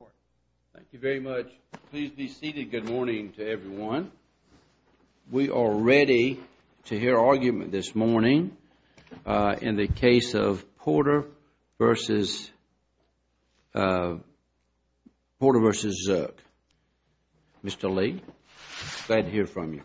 Thank you very much. Please be seated. Good morning to everyone. We are ready to hear argument this morning in the case of Porter v. Zook. Mr. Lee, glad to hear from you.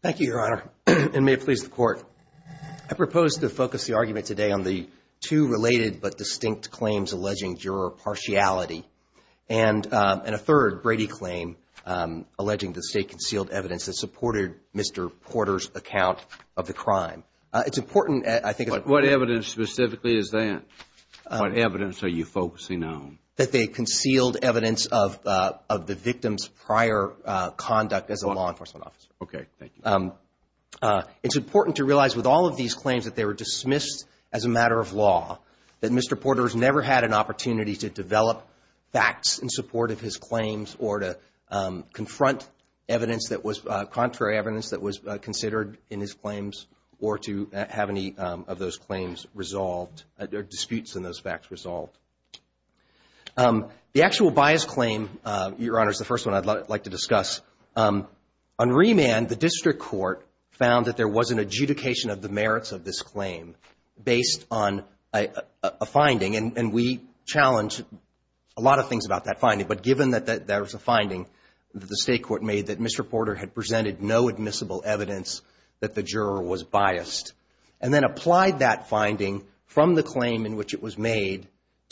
Thank you, Your Honor, and may it please the Court. I propose to focus the argument today on the two related but distinct claims alleging juror partiality and a third Brady claim alleging that the State concealed evidence that supported Mr. Porter's account of the crime. It's important, I think – What evidence specifically is that? What evidence are you focusing on? That they concealed evidence of the victim's prior conduct as a law enforcement officer. Okay, thank you. It's important to realize with all of these claims that they were dismissed as a matter of law, that Mr. Porter has never had an opportunity to develop facts in support of his claims or to confront evidence that was – contrary evidence that was considered in his claims or to have any of those claims resolved or disputes in those facts resolved. The actual bias claim, Your Honor, is the first one I'd like to discuss. On remand, the District Court found that there was an adjudication of the merits of this claim based on a finding, and we challenge a lot of things about that finding. But given that there was a finding that the State Court made that Mr. Porter had presented no admissible evidence that the juror was biased, and then applied that finding from the claim in which it was made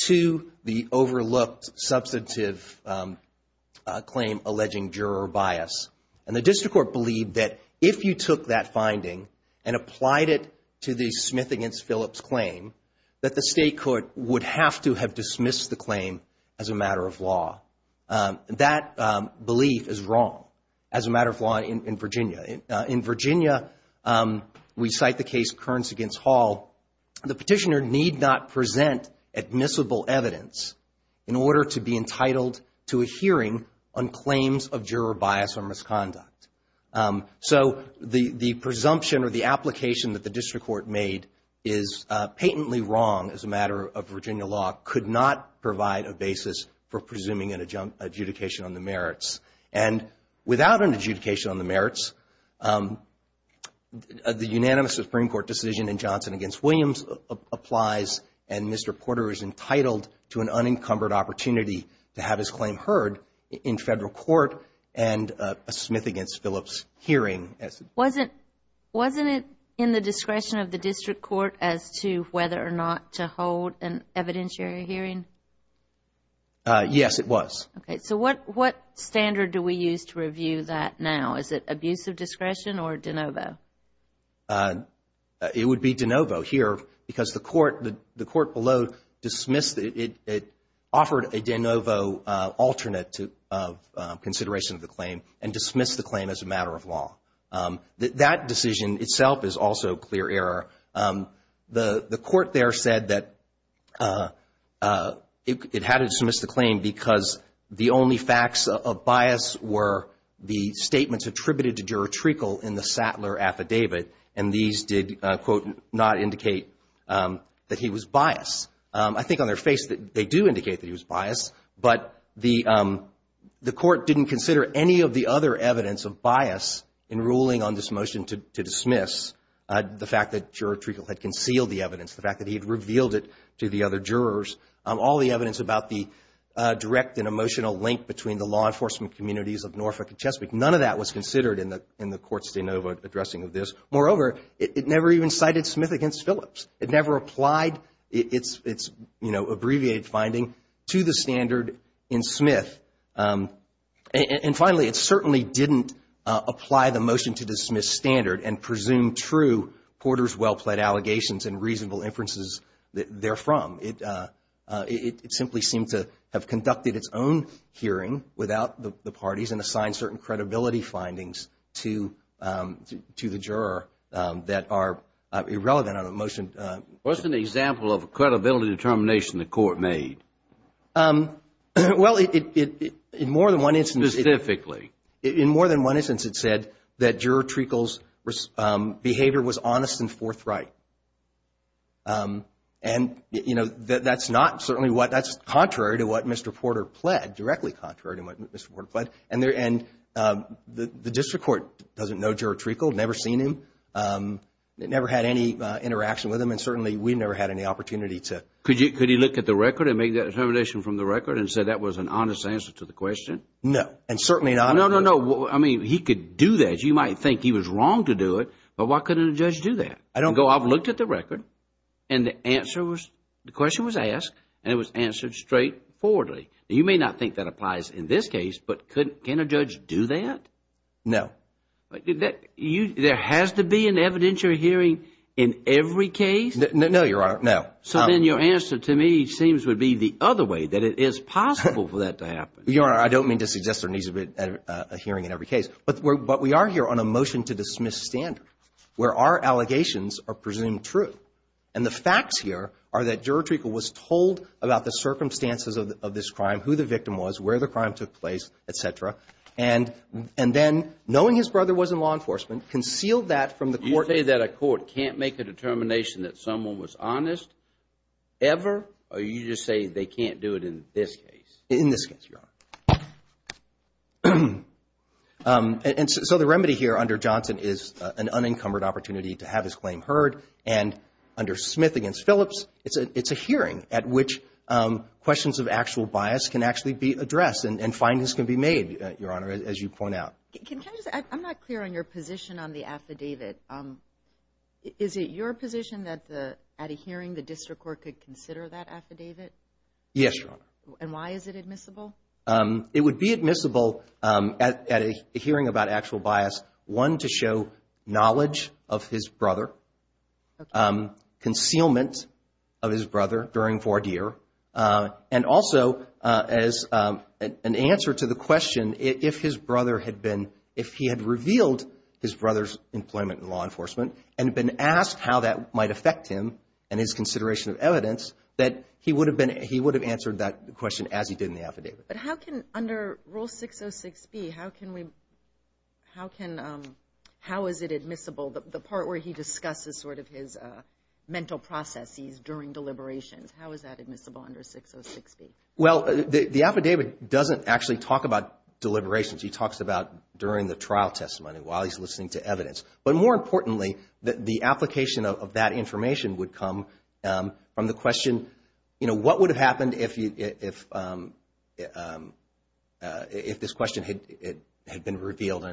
to the overlooked substantive claim alleging juror bias, and the District Court believed that if you took that finding and applied it to the Smith v. Phillips claim, that the State Court would have to have dismissed the claim as a matter of law. That belief is wrong as a matter of law in Virginia. In Virginia, we cite the case Kearns v. Hall. The petitioner need not present admissible evidence in order to be entitled to a hearing on claims of juror bias or misconduct. So the presumption or the application that the District Court made is patently wrong as a matter of Virginia law, could not provide a basis for presuming an adjudication on the merits. And without an adjudication on the merits, the unanimous Supreme Court decision in Johnson v. Williams applies, and Mr. Porter is entitled to an unencumbered opportunity to have his claim heard in Federal court and a Smith v. Phillips hearing. Wasn't it in the discretion of the District Court as to whether or not to hold an evidentiary hearing? Yes, it was. Okay. So what standard do we use to review that now? Is it abuse of discretion or de novo? It would be de novo here because the court below dismissed it. It offered a de novo alternate consideration of the claim and dismissed the claim as a matter of law. That decision itself is also clear error. The court there said that it had to dismiss the claim because the only facts of bias were the statements attributed to Juror Treacle in the Sattler affidavit, and these did, quote, not indicate that he was biased. I think on their face that they do indicate that he was biased, but the court didn't consider any of the other evidence of bias in ruling on this motion to dismiss the fact that Juror Treacle had concealed the evidence, the fact that he had revealed it to the other jurors. All the evidence about the direct and emotional link between the law enforcement communities of Norfolk and Chesapeake, none of that was considered in the court's de novo addressing of this. Moreover, it never even cited Smith against Phillips. It never applied its, you know, abbreviated finding to the standard in Smith. And finally, it certainly didn't apply the motion to dismiss standard and presume true Porter's well-plaid allegations and reasonable inferences therefrom. It simply seemed to have conducted its own hearing without the parties and assigned certain credibility findings to the juror that are irrelevant on a motion. What's an example of a credibility determination the court made? Well, in more than one instance it said that Juror Treacle's behavior was honest and forthright. And, you know, that's not certainly what, that's contrary to what Mr. Porter pled, directly contrary to what Mr. Porter pled. And the district court doesn't know Juror Treacle, never seen him, never had any interaction with him, and certainly we never had any opportunity to. Could he look at the record and make that determination from the record and say that was an honest answer to the question? No, and certainly not. No, no, no. I mean, he could do that. You might think he was wrong to do it, but why couldn't a judge do that? I don't know. Go out and look at the record, and the answer was, the question was asked, and it was answered straightforwardly. You may not think that applies in this case, but can a judge do that? No. There has to be an evidentiary hearing in every case? No, Your Honor, no. So then your answer to me seems to be the other way, that it is possible for that to happen. Your Honor, I don't mean to suggest there needs to be a hearing in every case, but we are here on a motion to dismiss standard where our allegations are presumed true. And the facts here are that Juror Treacle was told about the circumstances of this crime, who the victim was, where the crime took place, et cetera, and then knowing his brother was in law enforcement, concealed that from the court. Would you say that a court can't make a determination that someone was honest ever, or you just say they can't do it in this case? In this case, Your Honor. And so the remedy here under Johnson is an unencumbered opportunity to have his claim heard, and under Smith against Phillips, it's a hearing at which questions of actual bias can actually be addressed and findings can be made, Your Honor, as you point out. I'm not clear on your position on the affidavit. Is it your position that at a hearing the district court could consider that affidavit? Yes, Your Honor. And why is it admissible? It would be admissible at a hearing about actual bias, one, to show knowledge of his brother, concealment of his brother during voir dire, and also as an answer to the question, if his brother had been, if he had revealed his brother's employment in law enforcement and been asked how that might affect him and his consideration of evidence, that he would have answered that question as he did in the affidavit. But how can, under Rule 606B, how is it admissible, the part where he discusses sort of his mental processes during deliberations, how is that admissible under 606B? Well, the affidavit doesn't actually talk about deliberations. He talks about during the trial testimony, while he's listening to evidence. But more importantly, the application of that information would come from the question, you know, what would have happened if this question had been revealed?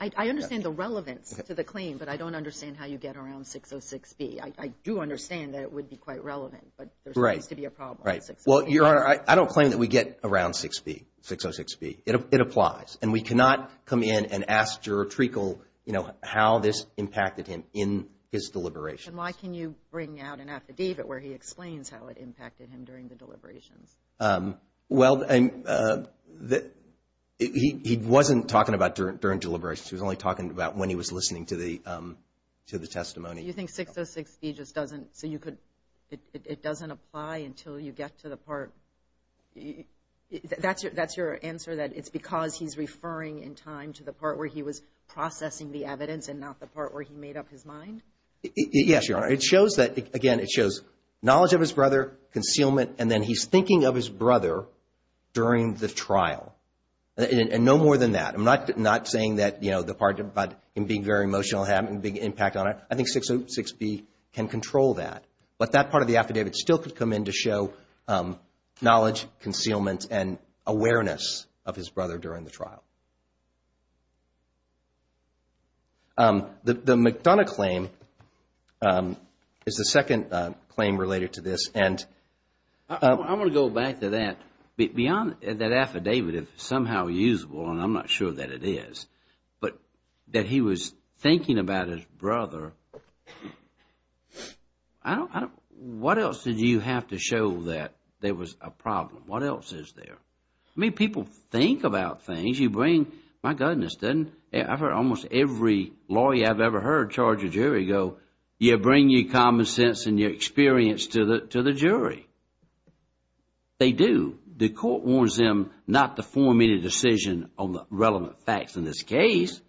I understand the relevance to the claim, but I don't understand how you get around 606B. I do understand that it would be quite relevant, but there seems to be a problem. Right. Well, Your Honor, I don't claim that we get around 606B. It applies. And we cannot come in and ask Juror Treacle, you know, how this impacted him in his deliberations. And why can you bring out an affidavit where he explains how it impacted him during the deliberations? Well, he wasn't talking about during deliberations. He was only talking about when he was listening to the testimony. So you think 606B just doesn't, so you could, it doesn't apply until you get to the part. That's your answer, that it's because he's referring in time to the part where he was processing the evidence and not the part where he made up his mind? Yes, Your Honor. It shows that, again, it shows knowledge of his brother, concealment, and then he's thinking of his brother during the trial. And no more than that. I'm not saying that, you know, the part about him being very emotional had a big impact on it. I think 606B can control that. But that part of the affidavit still could come in to show knowledge, concealment, and awareness of his brother during the trial. The McDonough claim is the second claim related to this. I want to go back to that. Beyond that affidavit, if somehow usable, and I'm not sure that it is, but that he was thinking about his brother, what else did you have to show that there was a problem? What else is there? I mean, people think about things. You bring, my goodness, doesn't almost every lawyer I've ever heard charge a jury go, you bring your common sense and your experience to the jury. They do. And the court warns them not to form any decision on the relevant facts in this case.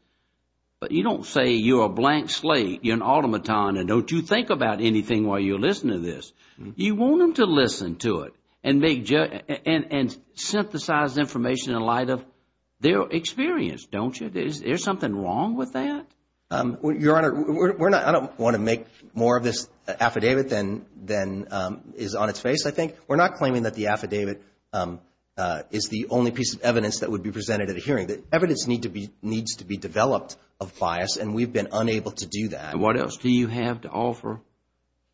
But you don't say you're a blank slate, you're an automaton, and don't you think about anything while you're listening to this. You want them to listen to it and synthesize information in light of their experience, don't you? There's something wrong with that? Your Honor, I don't want to make more of this affidavit than is on its face, I think. We're not claiming that the affidavit is the only piece of evidence that would be presented at a hearing. The evidence needs to be developed of bias, and we've been unable to do that. And what else do you have to offer?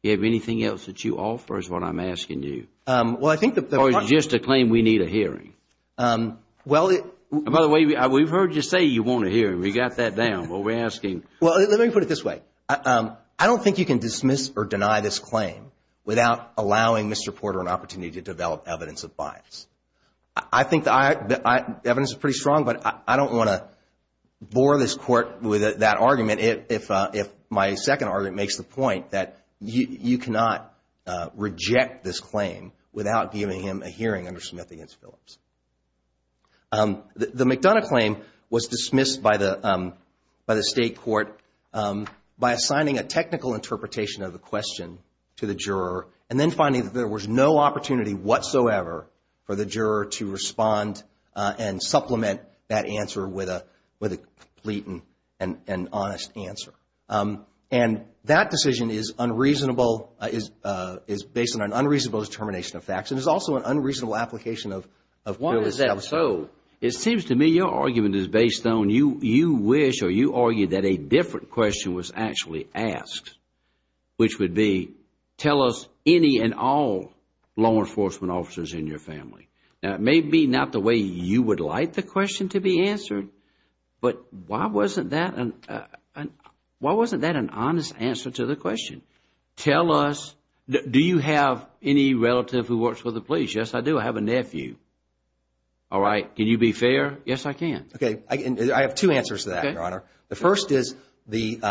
Do you have anything else that you offer is what I'm asking you? Well, I think the part of it. Or is it just a claim we need a hearing? By the way, we've heard you say you want a hearing. We got that down, but we're asking. Well, let me put it this way. I don't think you can dismiss or deny this claim without allowing Mr. Porter an opportunity to develop evidence of bias. I think the evidence is pretty strong, but I don't want to bore this Court with that argument. If my second argument makes the point that you cannot reject this claim without giving him a hearing under Smith v. Phillips. The McDonough claim was dismissed by the State Court by assigning a technical interpretation of the question to the juror and then finding that there was no opportunity whatsoever for the juror to respond and supplement that answer with a complete and honest answer. And that decision is based on an unreasonable determination of facts. And it's also an unreasonable application of Phillips. Why is that so? It seems to me your argument is based on you wish or you argued that a different question was actually asked, which would be tell us any and all law enforcement officers in your family. Now, it may be not the way you would like the question to be answered, but why wasn't that an honest answer to the question? Tell us, do you have any relative who works for the police? Yes, I do. I have a nephew. All right. Can you be fair? Yes, I can. Okay. I have two answers to that, Your Honor. The first is the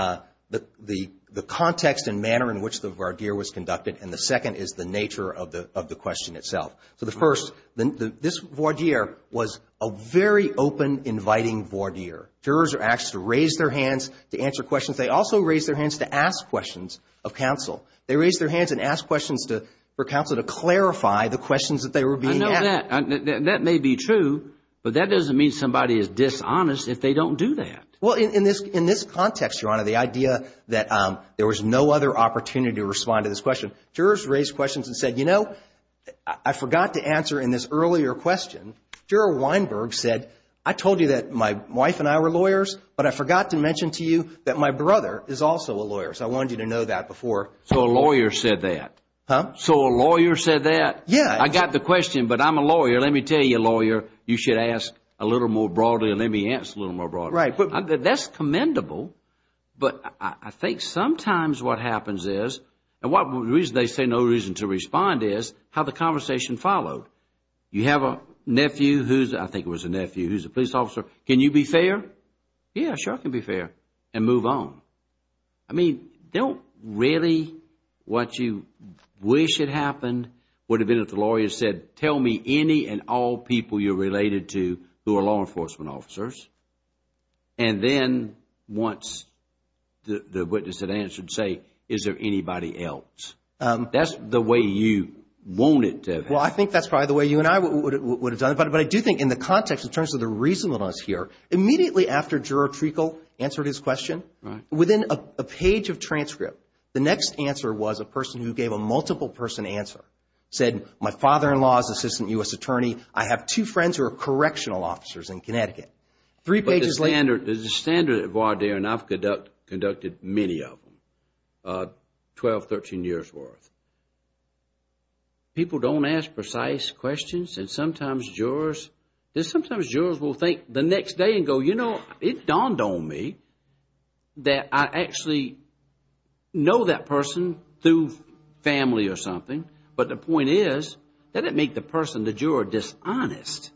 context and manner in which the voir dire was conducted. And the second is the nature of the question itself. So the first, this voir dire was a very open, inviting voir dire. Jurors are asked to raise their hands to answer questions. They also raise their hands to ask questions of counsel. They raise their hands and ask questions for counsel to clarify the questions that they were being asked. I know that. That may be true, but that doesn't mean somebody is dishonest if they don't do that. Well, in this context, Your Honor, the idea that there was no other opportunity to respond to this question, jurors raised questions and said, you know, I forgot to answer in this earlier question, Juror Weinberg said, I told you that my wife and I were lawyers, but I forgot to mention to you that my brother is also a lawyer. So I wanted you to know that before. So a lawyer said that? Huh? So a lawyer said that? Yes. I got the question, but I'm a lawyer. Let me tell you, lawyer, you should ask a little more broadly and let me answer a little more broadly. Right. That's commendable, but I think sometimes what happens is, and the reason they say no reason to respond is how the conversation followed. You have a nephew who's, I think it was a nephew, who's a police officer. Can you be fair? Yeah, sure I can be fair. And move on. I mean, don't really what you wish had happened would have been if the lawyer said, tell me any and all people you're related to who are law enforcement officers. And then once the witness had answered, say, is there anybody else? That's the way you want it to have happened. Well, I think that's probably the way you and I would have done it. But I do think in the context in terms of the reasonableness here, immediately after Juror Treacle answered his question, within a page of transcript, the next answer was a person who gave a multiple person answer, said, my father-in-law is Assistant U.S. Attorney. I have two friends who are correctional officers in Connecticut. Three pages later. There's a standard at voir dire, and I've conducted many of them, 12, 13 years worth. People don't ask precise questions. And sometimes jurors will think the next day and go, you know, it dawned on me that I actually know that person through family or something. But the point is, did it make the person, the juror, dishonest?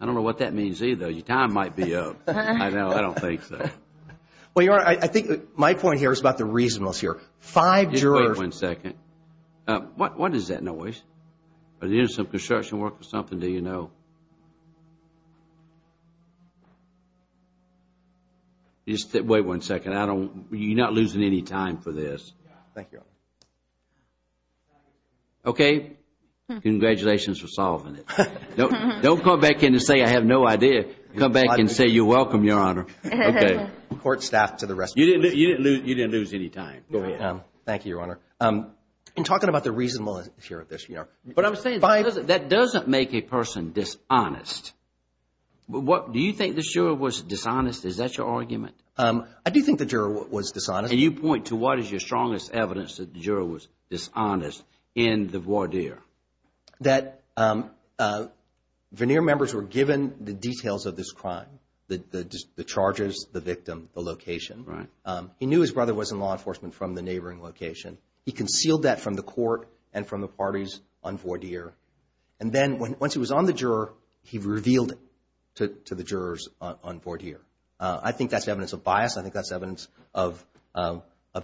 I don't know what that means either. Your time might be up. I don't think so. Well, your Honor, I think my point here is about the reasonableness here. Five jurors. Wait one second. What is that noise? Is it some construction work or something? Do you know? Wait one second. You're not losing any time for this. Thank you, Your Honor. Okay. Congratulations for solving it. Don't come back in and say I have no idea. Come back and say you're welcome, Your Honor. Okay. You didn't lose any time. Go ahead. Thank you, Your Honor. In talking about the reasonableness here of this. But I'm saying that doesn't make a person dishonest. Do you think the juror was dishonest? Is that your argument? I do think the juror was dishonest. And you point to what is your strongest evidence that the juror was dishonest in the voir dire? That veneer members were given the details of this crime. The charges, the victim, the location. He knew his brother was in law enforcement from the neighboring location. He concealed that from the court and from the parties on voir dire. And then once he was on the juror, he revealed it to the jurors on voir dire. I think that's evidence of bias. I think that's evidence of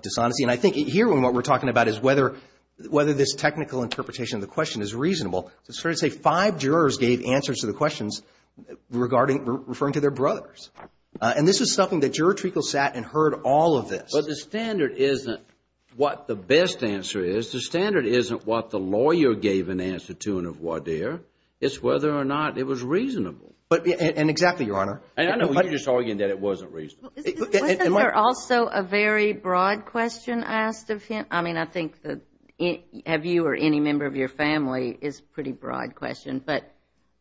dishonesty. And I think here what we're talking about is whether this technical interpretation of the question is reasonable. It's fair to say five jurors gave answers to the questions regarding, referring to their brothers. And this is something that Juror Treacle sat and heard all of this. But the standard isn't what the best answer is. The standard isn't what the lawyer gave an answer to in a voir dire. It's whether or not it was reasonable. And exactly, Your Honor. And I know you're just arguing that it wasn't reasonable. Isn't there also a very broad question asked of him? I mean, I think have you or any member of your family is a pretty broad question. But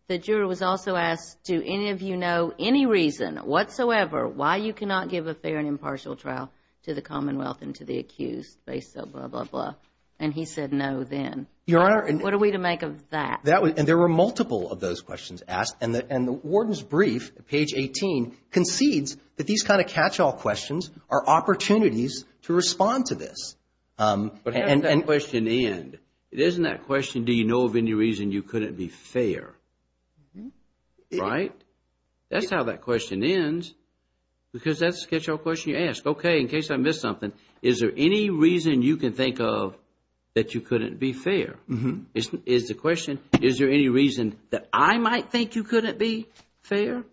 the juror was also asked, do any of you know any reason whatsoever why you cannot give a fair and impartial trial to the Commonwealth and to the accused based on blah, blah, blah? And he said no then. Your Honor. What are we to make of that? And there were multiple of those questions asked. And the warden's brief, page 18, concedes that these kind of catch-all questions are opportunities to respond to this. But how does that question end? Isn't that question, do you know of any reason you couldn't be fair? Right? That's how that question ends because that's a catch-all question you ask. Okay, in case I missed something, is there any reason you can think of that you couldn't be fair? Is the question, is there any reason that I might think you couldn't be fair?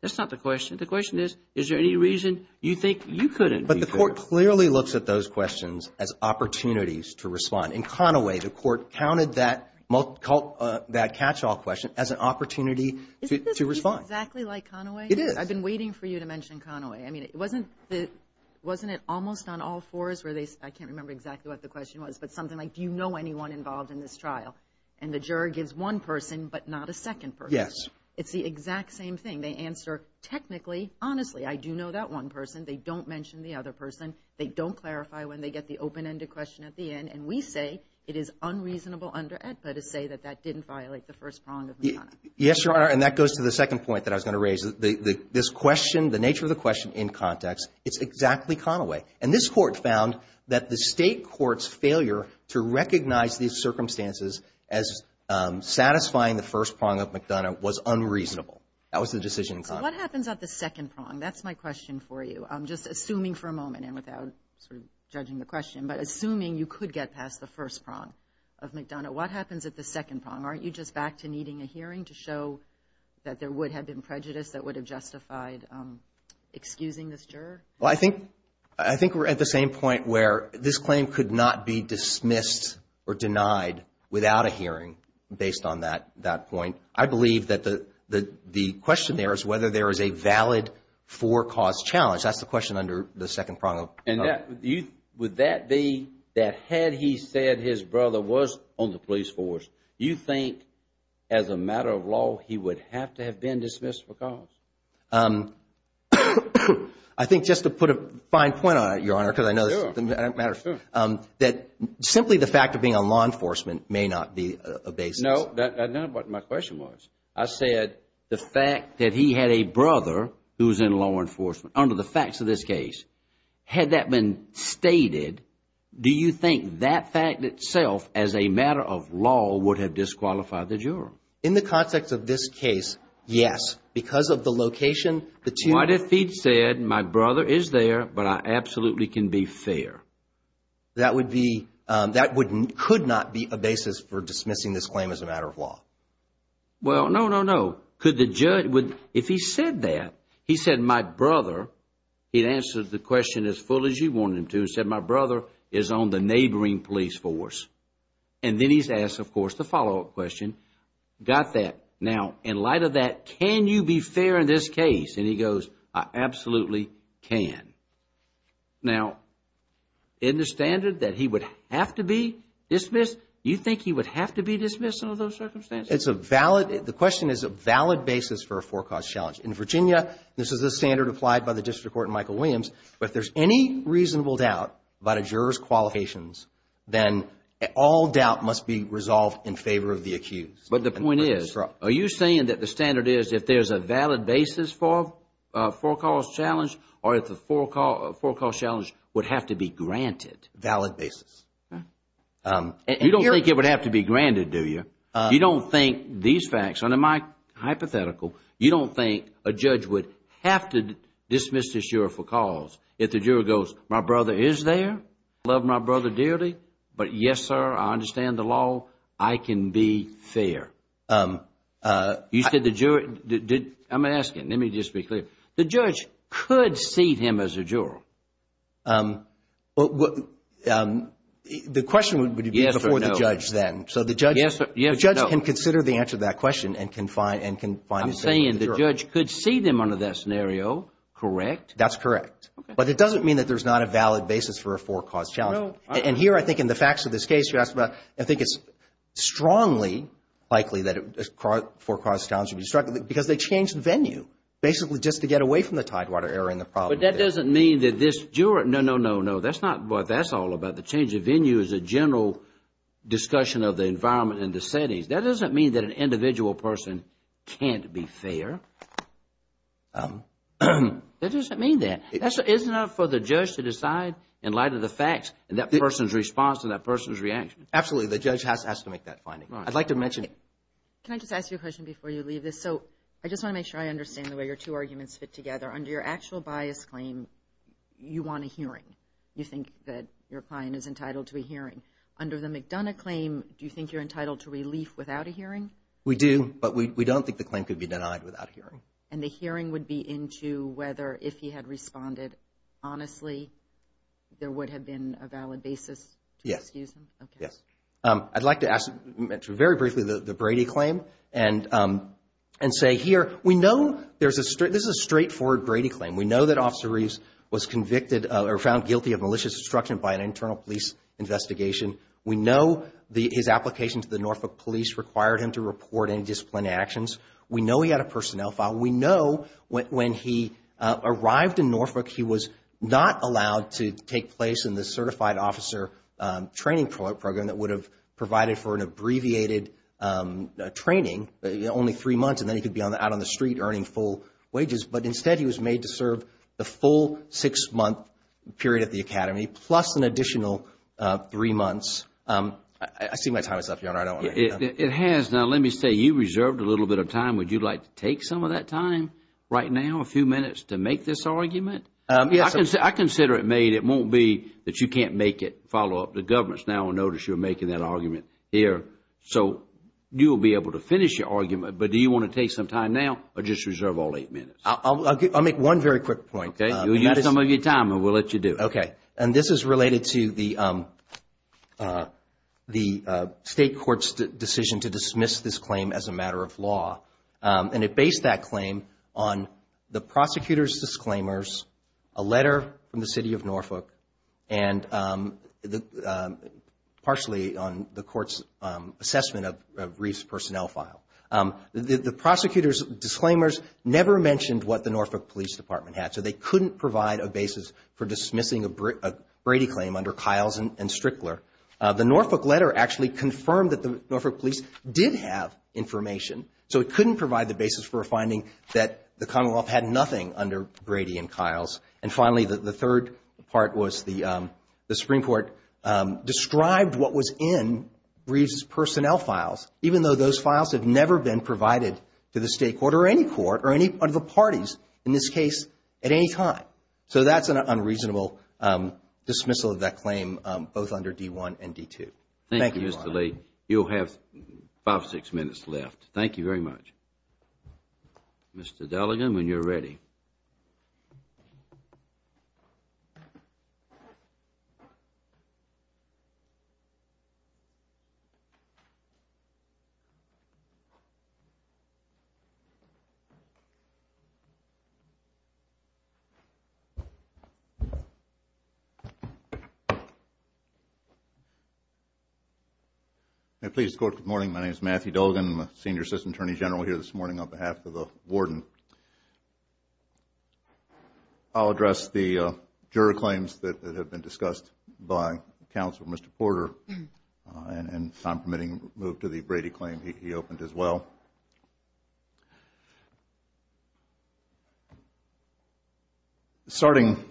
That's not the question. The question is, is there any reason you think you couldn't be fair? But the court clearly looks at those questions as opportunities to respond. In Conaway, the court counted that catch-all question as an opportunity to respond. Isn't this exactly like Conaway? It is. I've been waiting for you to mention Conaway. I mean, wasn't it almost on all fours where they, I can't remember exactly what the question was, but something like, do you know anyone involved in this trial? And the juror gives one person but not a second person. Yes. It's the exact same thing. They answer, technically, honestly, I do know that one person. They don't mention the other person. They don't clarify when they get the open-ended question at the end. And we say it is unreasonable under AEDPA to say that that didn't violate the first prong of McConaughey. Yes, Your Honor, and that goes to the second point that I was going to raise. This question, the nature of the question in context, it's exactly Conaway. And this court found that the state court's failure to recognize these circumstances as satisfying the first prong of McDonough was unreasonable. That was the decision in context. So what happens at the second prong? That's my question for you. I'm just assuming for a moment, and without sort of judging the question, but assuming you could get past the first prong of McDonough, what happens at the second prong? Aren't you just back to needing a hearing to show that there would have been prejudice that would have justified excusing this juror? Well, I think we're at the same point where this claim could not be dismissed or denied without a hearing based on that point. I believe that the question there is whether there is a valid for-cause challenge. That's the question under the second prong of McDonough. Would that be that had he said his brother was on the police force, you think as a matter of law he would have to have been dismissed for cause? I think just to put a fine point on it, Your Honor, because I know this doesn't matter, that simply the fact of being on law enforcement may not be a basis. No, that's not what my question was. I said the fact that he had a brother who was in law enforcement under the facts of this case, had that been stated, do you think that fact itself as a matter of law would have disqualified the juror? In the context of this case, yes. Because of the location, the two- What if he'd said my brother is there, but I absolutely can be fair? That would be, that could not be a basis for dismissing this claim as a matter of law. Well, no, no, no. Could the judge, if he said that, he said my brother, he'd answer the question as fully as he wanted him to and said my brother is on the neighboring police force. And then he's asked, of course, the follow-up question. Got that. Now, in light of that, can you be fair in this case? And he goes, I absolutely can. Now, in the standard that he would have to be dismissed, do you think he would have to be dismissed under those circumstances? It's a valid, the question is a valid basis for a forecast challenge. In Virginia, this is the standard applied by the District Court in Michael Williams. If there's any reasonable doubt about a juror's qualifications, then all doubt must be resolved in favor of the accused. But the point is, are you saying that the standard is if there's a valid basis for a forecast challenge or if the forecast challenge would have to be granted? Valid basis. You don't think it would have to be granted, do you? You don't think these facts, under my hypothetical, you don't think a judge would have to dismiss this juror for cause if the juror goes, my brother is there, I love my brother dearly, but yes, sir, I understand the law, I can be fair. You said the juror, I'm asking, let me just be clear, the judge could see him as a juror. The question would be before the judge then. So the judge can consider the answer to that question and can find the same for the juror. I'm saying the judge could see them under that scenario, correct? That's correct. But it doesn't mean that there's not a valid basis for a forecast challenge. And here I think in the facts of this case, I think it's strongly likely that a forecast challenge would be struck because they changed venue, basically just to get away from the Tidewater error in the problem. But that doesn't mean that this juror, no, no, no, no, that's not what that's all about. The change of venue is a general discussion of the environment and the settings. That doesn't mean that an individual person can't be fair. That doesn't mean that. It's not for the judge to decide in light of the facts and that person's response and that person's reaction. Absolutely, the judge has to make that finding. I'd like to mention. Can I just ask you a question before you leave this? So I just want to make sure I understand the way your two arguments fit together. Under your actual bias claim, you want a hearing. You think that your client is entitled to a hearing. Under the McDonough claim, do you think you're entitled to relief without a hearing? We do, but we don't think the claim could be denied without a hearing. And the hearing would be into whether if he had responded honestly, there would have been a valid basis to excuse him? Yes, yes. I'd like to ask, very briefly, the Brady claim and say here, we know there's a straight, this is a straightforward Brady claim. We know that Officer Reeves was convicted or found guilty of malicious destruction by an internal police investigation. We know his application to the Norfolk police required him to report any disciplinary actions. We know he had a personnel file. We know when he arrived in Norfolk, he was not allowed to take place in the certified officer training program that would have provided for an abbreviated training, only three months, and then he could be out on the street earning full wages. But instead, he was made to serve the full six-month period at the academy plus an additional three months. I see my time is up, Your Honor. It has. Now, let me say, you reserved a little bit of time. Would you like to take some of that time right now, a few minutes, to make this argument? Yes. I consider it made. It won't be that you can't make it, follow up. The government is now going to notice you're making that argument here. So you will be able to finish your argument, but do you want to take some time now or just reserve all eight minutes? I'll make one very quick point. Okay. You'll use some of your time and we'll let you do it. Okay. And this is related to the State Court's decision to dismiss this claim as a matter of law, and it based that claim on the prosecutor's disclaimers, a letter from the City of Norfolk, and partially on the Court's assessment of Reeve's personnel file. The prosecutor's disclaimers never mentioned what the Norfolk Police Department had, so they couldn't provide a basis for dismissing a Brady claim under Kiles and Strickler. The Norfolk letter actually confirmed that the Norfolk Police did have information, so it couldn't provide the basis for a finding that the Commonwealth had nothing under Brady and Kiles. And finally, the third part was the Supreme Court described what was in Reeve's personnel files, even though those files have never been provided to the State Court or any court or any of the parties, in this case, at any time. So that's an unreasonable dismissal of that claim, both under D-1 and D-2. Thank you, Mr. Lee. You'll have five or six minutes left. Thank you very much. Mr. Dalligan, when you're ready. Thank you. May it please the Court, good morning. My name is Matthew Dalligan. I'm a senior assistant attorney general here this morning on behalf of the warden. I'll address the juror claims that have been discussed by Counselor Mr. Porter, and if I'm permitting, move to the Brady claim he opened as well. Starting,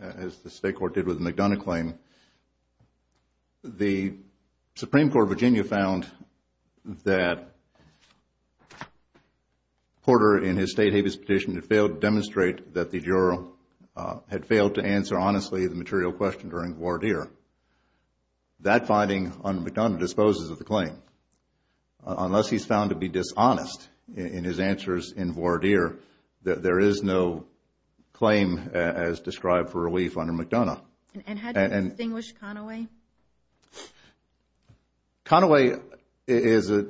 as the State Court did with the McDonough claim, the Supreme Court of Virginia found that Porter, in his state habeas petition, had failed to demonstrate that the juror had failed to answer honestly the material question during voir dire. That finding under McDonough disposes of the claim. Unless he's found to be dishonest in his answers in voir dire, there is no claim as described for relief under McDonough. And how do you distinguish Conaway? Conaway is a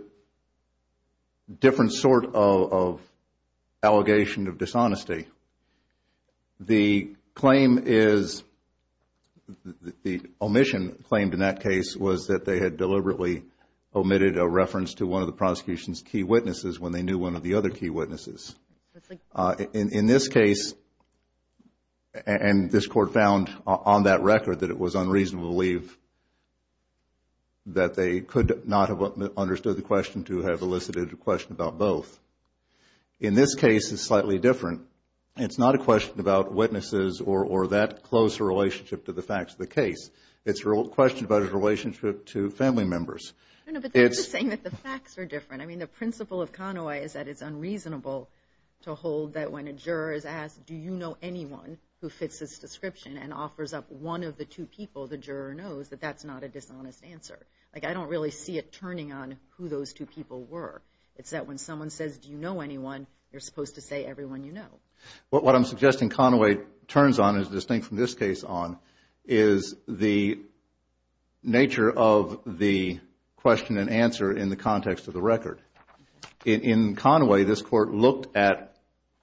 different sort of allegation of dishonesty. The claim is, the omission claimed in that case, was that they had deliberately omitted a reference to one of the prosecution's key witnesses when they knew one of the other key witnesses. In this case, and this court found on that record that it was unreasonable to believe that they could not have understood the question to have elicited a question about both. In this case, it's slightly different. It's not a question about witnesses or that close a relationship to the facts of the case. It's a question about his relationship to family members. No, no, but they're just saying that the facts are different. I mean, the principle of Conaway is that it's unreasonable to hold that when a juror is asked, do you know anyone who fits this description and offers up one of the two people, the juror knows that that's not a dishonest answer. Like, I don't really see it turning on who those two people were. It's that when someone says, do you know anyone, you're supposed to say everyone you know. What I'm suggesting Conaway turns on, is distinct from this case on, is the nature of the question and answer in the context of the record. In Conaway, this court looked at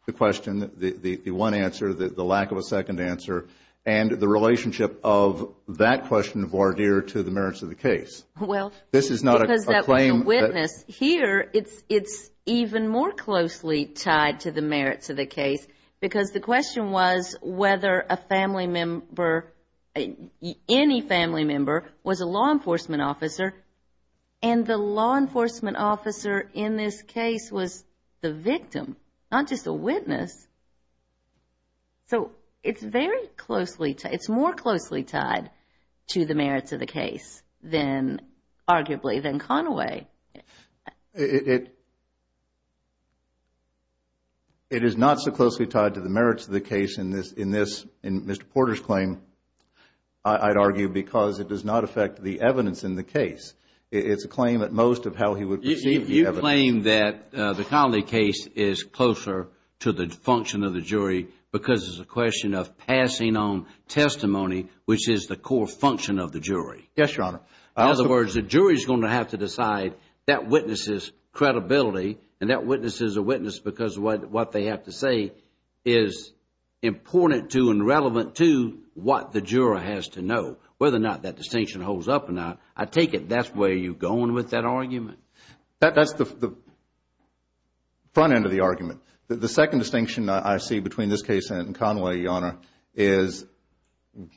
the question, the one answer, the lack of a second answer, and the relationship of that question of voir dire to the merits of the case. This is not a claim. Well, because that was the witness. Here, it's even more closely tied to the merits of the case, because the question was whether a family member, any family member, was a law enforcement officer, and the law enforcement officer in this case was the victim, not just a witness. So it's very closely, it's more closely tied to the merits of the case than, arguably, than Conaway. It is not so closely tied to the merits of the case in this, in Mr. Porter's claim, I'd argue, because it does not affect the evidence in the case. It's a claim at most of how he would perceive the evidence. You claim that the Conaway case is closer to the function of the jury, because it's a question of passing on testimony, which is the core function of the jury. Yes, Your Honor. In other words, the jury is going to have to decide that witness's credibility, and that witness is a witness because what they have to say is important to and relevant to what the juror has to know, whether or not that distinction holds up or not. I take it that's where you're going with that argument? That's the front end of the argument. The second distinction I see between this case and Conaway, Your Honor, is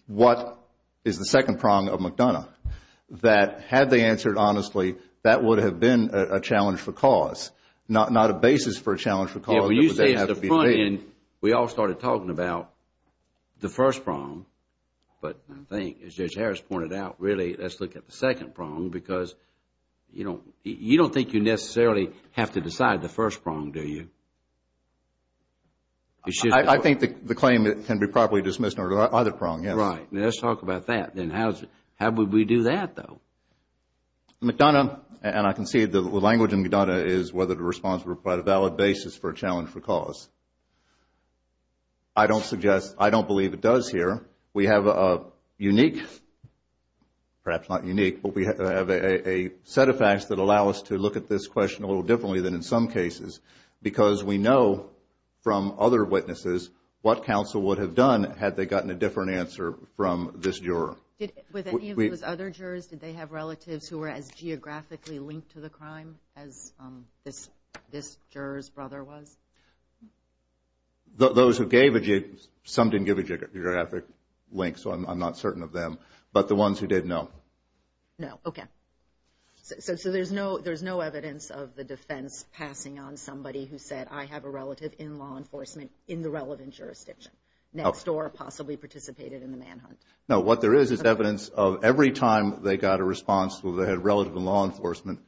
what is the second prong of McDonough, that had they answered honestly, that would have been a challenge for cause, not a basis for a challenge for cause. When you say it's the front end, we all started talking about the first prong, but I think, as Judge Harris pointed out, really, let's look at the second prong, because you don't think you necessarily have to decide the first prong, do you? I think the claim can be properly dismissed under either prong, yes. Right. Let's talk about that. Then how would we do that, though? McDonough, and I can see the language in McDonough, is whether to respond by the valid basis for a challenge for cause. I don't suggest, I don't believe it does here. We have a unique, perhaps not unique, but we have a set of facts that allow us to look at this question a little differently than in some cases, because we know from other witnesses what counsel would have done had they gotten a different answer from this juror. With any of those other jurors, did they have relatives who were as geographically linked to the crime as this juror's brother was? Those who gave, some didn't give a geographic link, so I'm not certain of them, but the ones who did, no. No, okay. So there's no evidence of the defense passing on somebody who said, I have a relative in law enforcement in the relevant jurisdiction, next door, possibly participated in the manhunt. No, what there is is evidence of every time they got a response, whether they had a relative in law enforcement,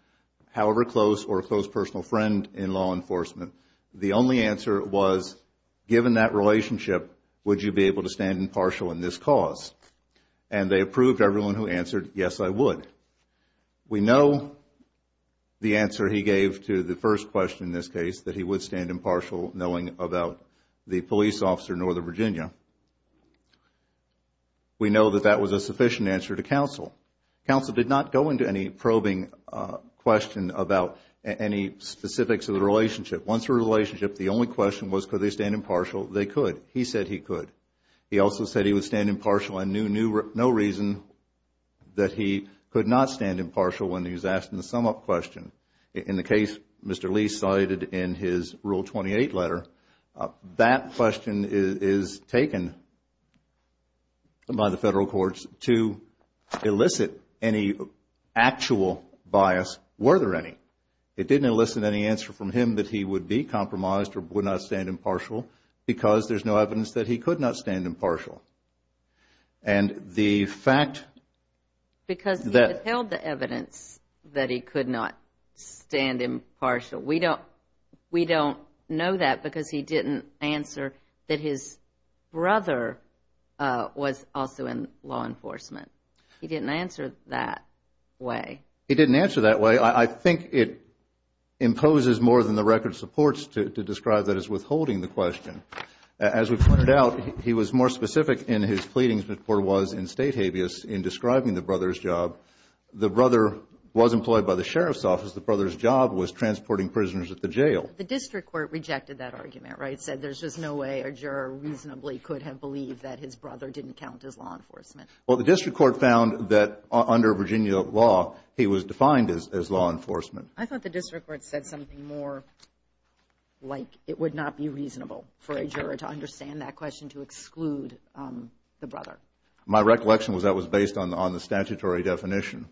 however close or a close personal friend in law enforcement, the only answer was, given that relationship, would you be able to stand impartial in this cause? And they approved everyone who answered, yes, I would. We know the answer he gave to the first question in this case, that he would stand impartial knowing about the police officer in Northern Virginia. We know that that was a sufficient answer to counsel. Counsel did not go into any probing question about any specifics of the relationship. Once the relationship, the only question was, could they stand impartial? They could. He said he could. He also said he would stand impartial and knew no reason that he could not stand impartial when he was asked in the sum-up question. In the case Mr. Lee cited in his Rule 28 letter, that question is taken by the federal courts to elicit any actual bias. Were there any? No. It didn't elicit any answer from him that he would be compromised or would not stand impartial because there's no evidence that he could not stand impartial. And the fact that Because he withheld the evidence that he could not stand impartial. We don't know that because he didn't answer that his brother was also in law enforcement. He didn't answer that way. He didn't answer that way. I think it imposes more than the record supports to describe that as withholding the question. As we pointed out, he was more specific in his pleadings before he was in state habeas in describing the brother's job. The brother was employed by the sheriff's office. The brother's job was transporting prisoners at the jail. The district court rejected that argument, right, said there's just no way a juror reasonably could have believed that his brother didn't count as law enforcement. Well, the district court found that under Virginia law, he was defined as law enforcement. I thought the district court said something more like it would not be reasonable for a juror to understand that question to exclude the brother. My recollection was that was based on the statutory definition.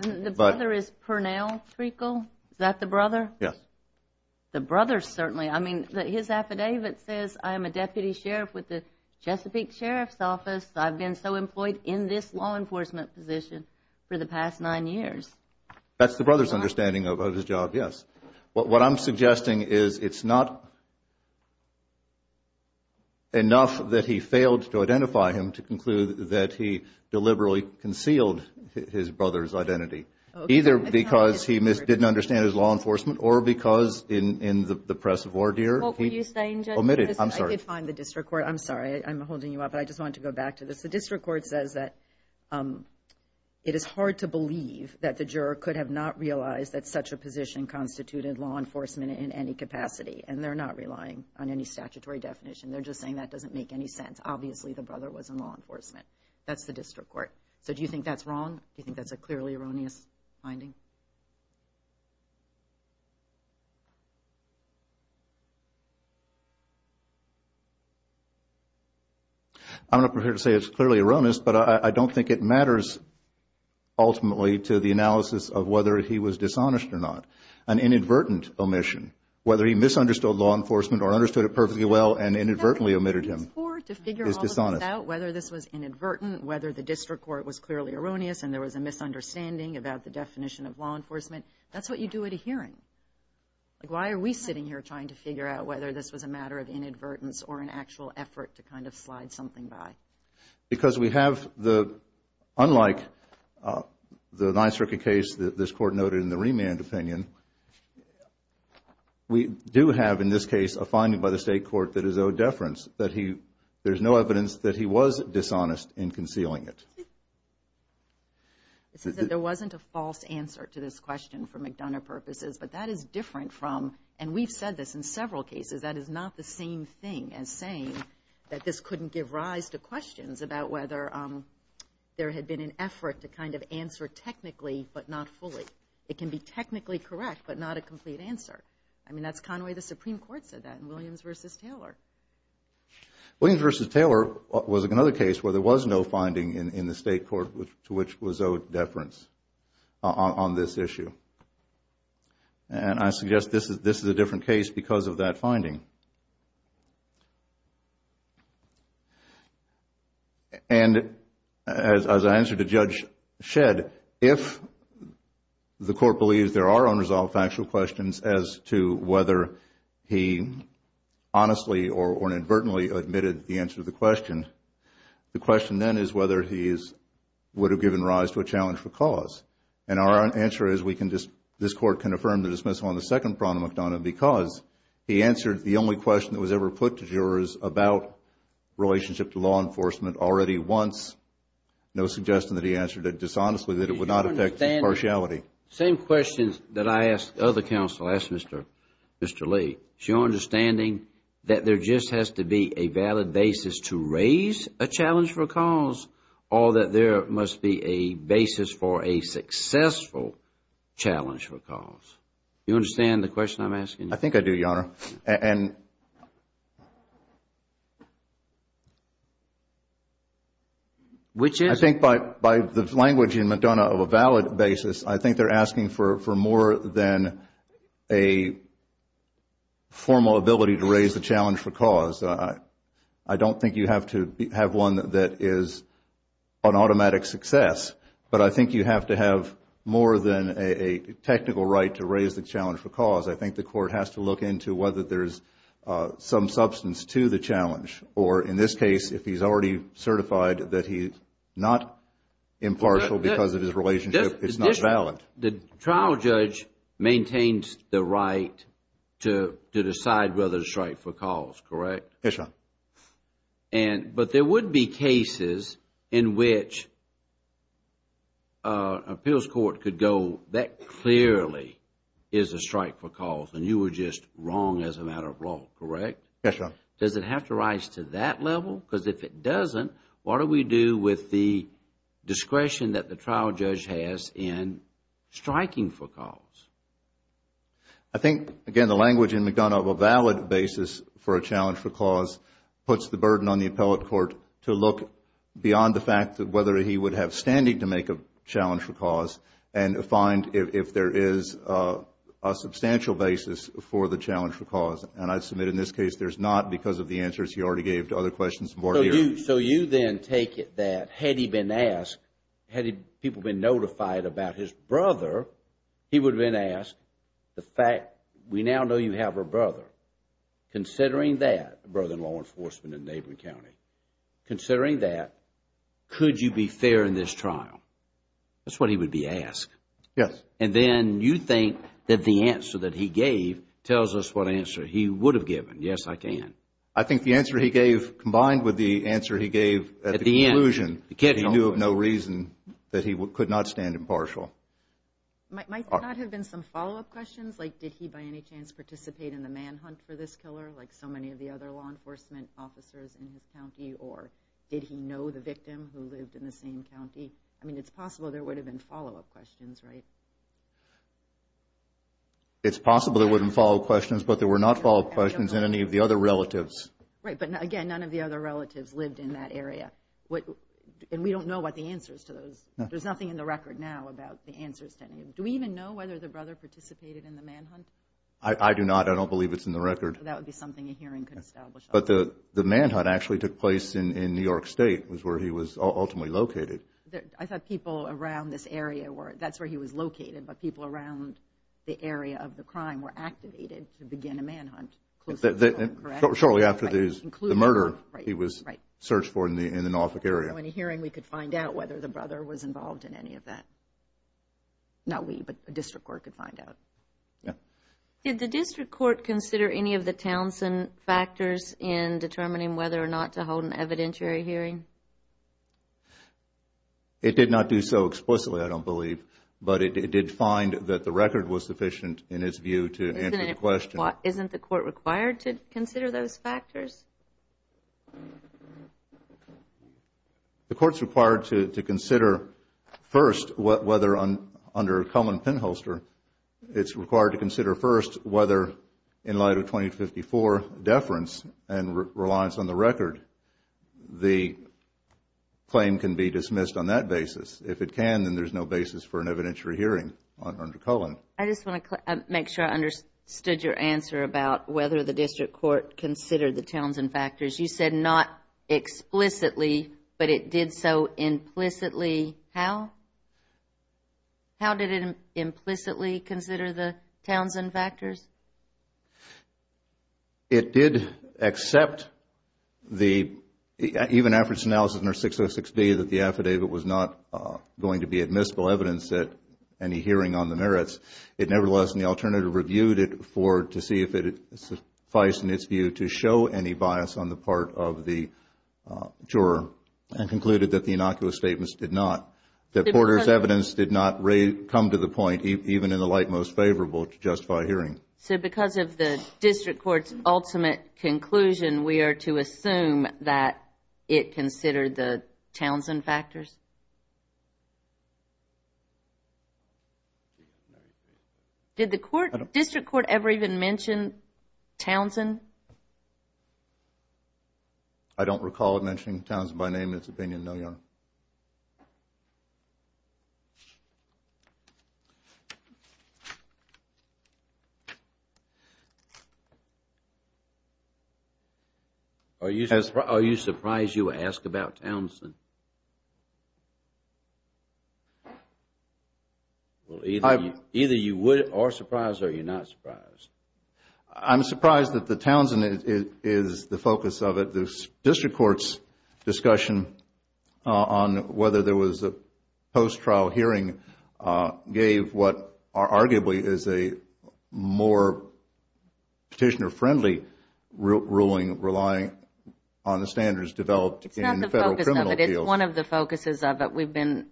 The brother is Pernell Treacle. Is that the brother? Yes. The brother certainly. I mean, his affidavit says, I am a deputy sheriff with the Chesapeake Sheriff's Office. I've been so employed in this law enforcement position for the past nine years. That's the brother's understanding of his job, yes. What I'm suggesting is it's not enough that he failed to identify him to conclude that he deliberately concealed his brother's identity, either because he didn't understand his law enforcement or because in the press of ordeal he omitted. I could find the district court. I'm sorry. I'm holding you up, but I just wanted to go back to this. The district court says that it is hard to believe that the juror could have not realized that such a position constituted law enforcement in any capacity, and they're not relying on any statutory definition. They're just saying that doesn't make any sense. Obviously, the brother was in law enforcement. That's the district court. So do you think that's wrong? Do you think that's a clearly erroneous finding? I'm not prepared to say it's clearly erroneous, but I don't think it matters ultimately to the analysis of whether he was dishonest or not. An inadvertent omission, whether he misunderstood law enforcement or understood it perfectly well and inadvertently omitted him, is dishonest. Whether this was inadvertent, whether the district court was clearly erroneous and there was a misunderstanding about the definition of law enforcement, that's what you do at a hearing. Why are we sitting here trying to figure out whether this was a matter of inadvertence or an actual effort to kind of slide something by? Because we have the, unlike the 9th Circuit case that this court noted in the remand opinion, we do have in this case a finding by the state court that is owed deference, that there's no evidence that he was dishonest in concealing it. It's just that there wasn't a false answer to this question for McDonough purposes, but that is different from, and we've said this in several cases, that is not the same thing as saying that this couldn't give rise to questions about whether there had been an effort to kind of answer technically but not fully. It can be technically correct but not a complete answer. I mean, that's kind of the way the Supreme Court said that in Williams v. Taylor. Williams v. Taylor was another case where there was no finding in the state court to which was owed deference on this issue. And I suggest this is a different case because of that finding. And as I answered to Judge Shedd, if the court believes there are unresolved factual questions as to whether he honestly or inadvertently admitted the answer to the question, the question then is whether he would have given rise to a challenge for cause. And our answer is this Court can affirm the dismissal on the second problem of McDonough because he answered the only question that was ever put to jurors about relationship to law enforcement already once, no suggestion that he answered it dishonestly, that it would not affect impartiality. Same questions that I ask other counsel, I ask Mr. Lee. Is your understanding that there just has to be a valid basis to raise a challenge for cause or that there must be a basis for a successful challenge for cause? Do you understand the question I'm asking? I think I do, Your Honor. Which is? I think by the language in McDonough of a valid basis, I think they're asking for more than a formal ability to raise a challenge for cause. I don't think you have to have one that is an automatic success, but I think you have to have more than a technical right to raise the challenge for cause. I think the Court has to look into whether there's some substance to the challenge or in this case if he's already certified that he's not impartial because of his relationship, it's not valid. The trial judge maintains the right to decide whether to strike for cause, correct? Yes, Your Honor. But there would be cases in which an appeals court could go, that clearly is a strike for cause and you were just wrong as a matter of law, correct? Yes, Your Honor. Does it have to rise to that level? Because if it doesn't, what do we do with the discretion that the trial judge has in striking for cause? I think, again, the language in McDonough of a valid basis for a challenge for cause puts the burden on the appellate court to look beyond the fact of whether he would have standing to make a challenge for cause and find if there is a substantial basis for the challenge for cause. And I submit in this case there's not because of the answers he already gave to other questions. So you then take it that had he been asked, had people been notified about his brother, he would have been asked the fact, we now know you have a brother. Considering that, a brother in law enforcement in neighboring county, considering that, could you be fair in this trial? That's what he would be asked. Yes. And then you think that the answer that he gave tells us what answer he would have given. Yes, I can. I think the answer he gave combined with the answer he gave at the conclusion, he knew of no reason that he could not stand impartial. Might that have been some follow-up questions? Like did he by any chance participate in the manhunt for this killer like so many of the other law enforcement officers in his county? Or did he know the victim who lived in the same county? I mean, it's possible there would have been follow-up questions, right? It's possible there would have been follow-up questions, but there were not follow-up questions in any of the other relatives. Right, but again, none of the other relatives lived in that area. And we don't know what the answer is to those. There's nothing in the record now about the answers to any of them. Do we even know whether the brother participated in the manhunt? I do not. I don't believe it's in the record. That would be something a hearing could establish. But the manhunt actually took place in New York State, was where he was ultimately located. I thought people around this area, that's where he was located, but people around the area of the crime were activated to begin a manhunt. Correct? Shortly after the murder he was searched for in the Norfolk area. So in a hearing we could find out whether the brother was involved in any of that. Not we, but the district court could find out. Did the district court consider any of the Townsend factors in determining whether or not to hold an evidentiary hearing? It did not do so explicitly, I don't believe, but it did find that the record was sufficient in its view to answer the question. Isn't the court required to consider those factors? The court is required to consider first whether under Cullen-Penholster, it's required to consider first whether in light of 2054 deference and reliance on the record, the claim can be dismissed on that basis. If it can, then there's no basis for an evidentiary hearing under Cullen. I just want to make sure I understood your answer about whether the district court considered the Townsend factors. You said not explicitly, but it did so implicitly. How? How did it implicitly consider the Townsend factors? It did accept the, even after its analysis under 606B, that the affidavit was not going to be admissible evidence at any hearing on the merits. It nevertheless, in the alternative, reviewed it to see if it sufficed in its view to show any bias on the part of the juror and concluded that the innocuous statements did not, that Porter's evidence did not come to the point, even in the light most favorable, to justify a hearing. So because of the district court's ultimate conclusion, we are to assume that it considered the Townsend factors? Did the district court ever even mention Townsend? I don't recall it mentioning Townsend by name in its opinion, no, Your Honor. Are you surprised you asked about Townsend? Either you are surprised or you're not surprised. I'm surprised that the Townsend is the focus of it. The district court's discussion on whether there was a post-trial hearing gave what arguably is a more petitioner-friendly ruling relying on the standards developed in the federal criminal field. It's not the focus of it. It's one of the focuses of it. We've been,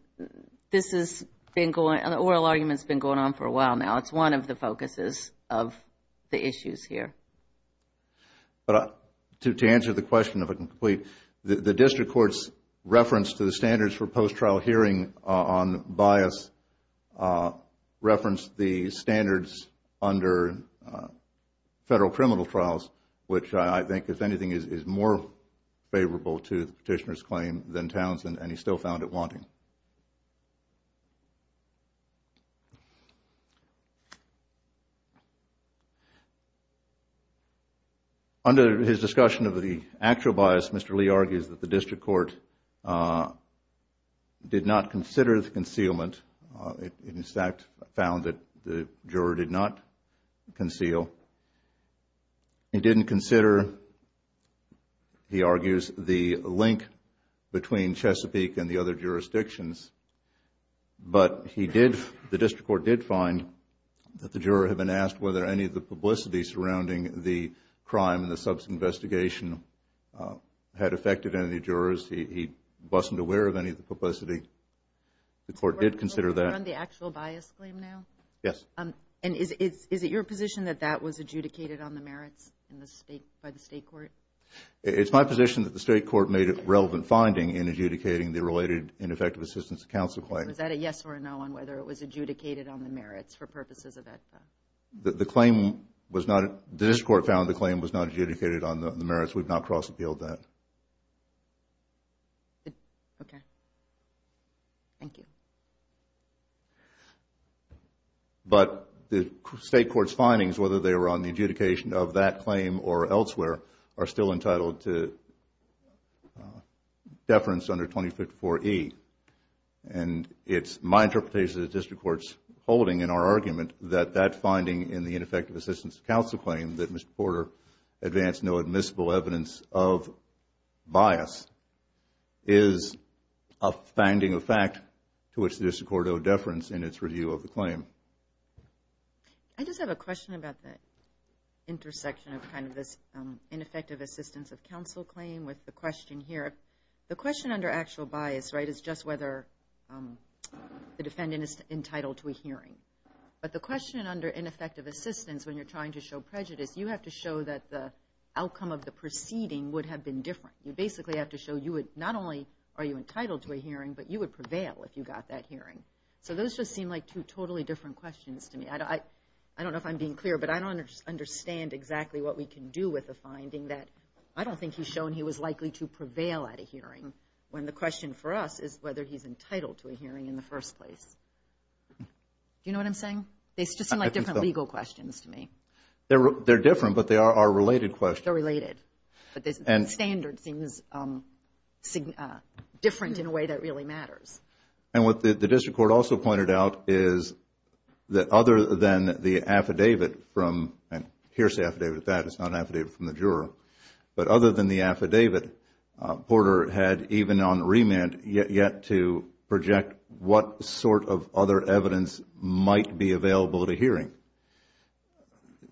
this has been going, the oral argument has been going on for a while now. It's one of the focuses of the issues here. To answer the question, if I can complete, the district court's reference to the standards for post-trial hearing on bias referenced the standards under federal criminal trials, which I think, if anything, is more favorable to the petitioner's claim than Townsend, and he still found it wanting. Under his discussion of the actual bias, Mr. Lee argues that the district court did not consider the concealment. It in fact found that the juror did not conceal. He didn't consider, he argues, the link between Chesapeake and the other jurisdictions, but he did, the district court did find that the juror had been asked whether any of the publicity surrounding the crime and the subsequent investigation had affected any jurors. He wasn't aware of any of the publicity. The court did consider that. You're on the actual bias claim now? Yes. Is it your position that that was adjudicated on the merits by the state court? It's my position that the state court made a relevant finding in adjudicating the related ineffective assistance to counsel claim. Was that a yes or a no on whether it was adjudicated on the merits for purposes of that? The claim was not, the district court found the claim was not adjudicated on the merits. We've not cross-appealed that. Okay. Thank you. But the state court's findings, whether they were on the adjudication of that claim or elsewhere, are still entitled to deference under 2054E. And it's my interpretation that the district court's holding in our argument that that finding in the ineffective assistance to counsel claim that Mr. Porter advanced no admissible evidence of bias is a finding of fact to which the district court owed deference in its review of the claim. I just have a question about the intersection of kind of this ineffective assistance of counsel claim with the question here. The question under actual bias, right, is just whether the defendant is entitled to a hearing. But the question under ineffective assistance, when you're trying to show prejudice, you have to show that the outcome of the proceeding would have been different. You basically have to show you would not only are you entitled to a hearing, but you would prevail if you got that hearing. So those just seem like two totally different questions to me. I don't know if I'm being clear, but I don't understand exactly what we can do with a finding that I don't think he's shown he was likely to prevail at a hearing, when the question for us is whether he's entitled to a hearing in the first place. Do you know what I'm saying? They just seem like different legal questions to me. They're different, but they are related questions. They're related. But the standard seems different in a way that really matters. And what the district court also pointed out is that other than the affidavit from, and here's the affidavit at that. It's not an affidavit from the juror. But other than the affidavit, Porter had, even on remand, yet to project what sort of other evidence might be available at a hearing.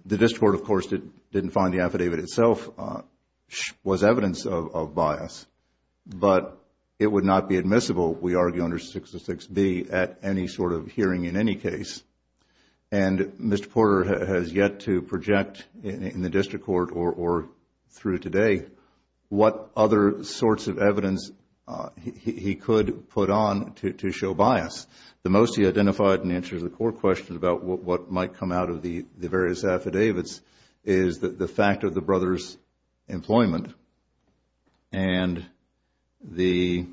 The district court, of course, didn't find the affidavit itself was evidence of bias. But it would not be admissible, we argue under 606B, at any sort of hearing in any case. And Mr. Porter has yet to project in the district court or through today what other sorts of evidence he could put on to show bias. The most he identified in answer to the court question about what might come out of the various affidavits is the fact of the brother's employment and the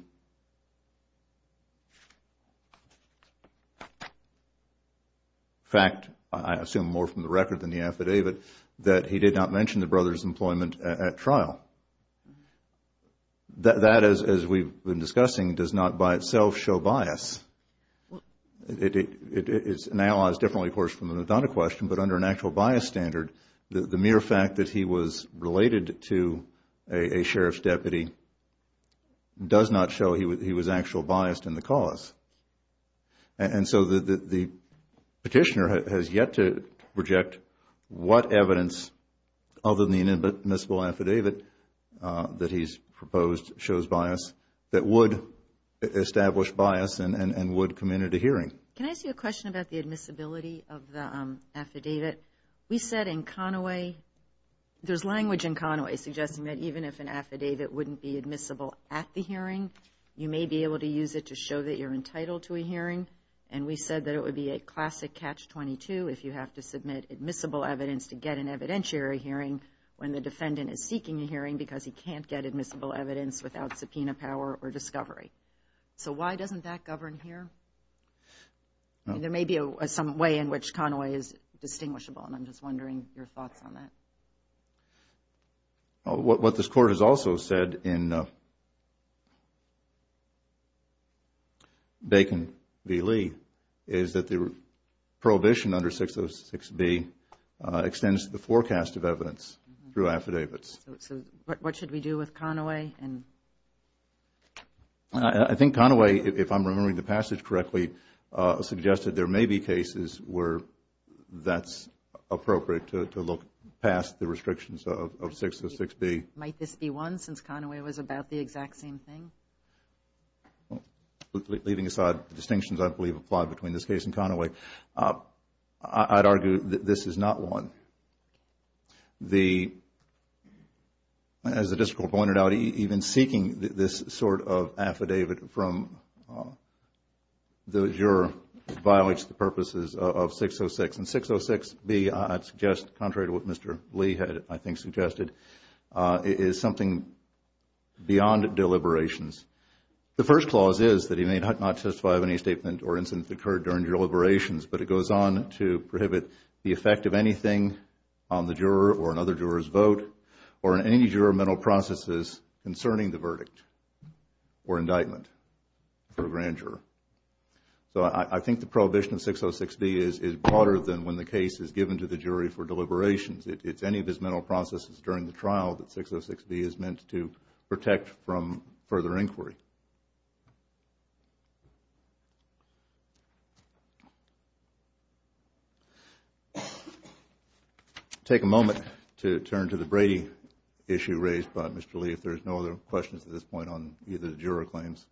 fact, I assume more from the record than the affidavit, that he did not mention the brother's employment at trial. That, as we've been discussing, does not by itself show bias. It's analyzed differently, of course, from the Madonna question, but under an actual bias standard, the mere fact that he was related to a sheriff's deputy does not show he was actual biased in the cause. And so the petitioner has yet to project what evidence, other than the inadmissible affidavit that he's proposed shows bias, that would establish bias and would come in at a hearing. Can I ask you a question about the admissibility of the affidavit? We said in Conaway, there's language in Conaway suggesting that even if an affidavit wouldn't be admissible at the hearing, you may be able to use it to show that you're entitled to a hearing. And we said that it would be a classic catch-22 if you have to submit admissible evidence to get an evidentiary hearing when the defendant is seeking a hearing because he can't get admissible evidence without subpoena power or discovery. So why doesn't that govern here? There may be some way in which Conaway is distinguishable, and I'm just wondering your thoughts on that. is that the prohibition under 606B extends the forecast of evidence through affidavits. So what should we do with Conaway? I think Conaway, if I'm remembering the passage correctly, suggested there may be cases where that's appropriate to look past the restrictions of 606B. Might this be one, since Conaway was about the exact same thing? Leaving aside the distinctions I believe apply between this case and Conaway, I'd argue that this is not one. As the District Court pointed out, even seeking this sort of affidavit from the juror violates the purposes of 606. I'd suggest, contrary to what Mr. Lee had, I think, suggested, it is something beyond deliberations. The first clause is that he may not testify of any statement or incident that occurred during deliberations, but it goes on to prohibit the effect of anything on the juror or another juror's vote or any juramental processes concerning the verdict or indictment for a grand juror. So I think the prohibition of 606B is broader than when the case is given to the jury for deliberations. It's any of his mental processes during the trial that 606B is meant to protect from further inquiry. Take a moment to turn to the Brady issue raised by Mr. Lee if there are no other questions at this point on either of the juror claims.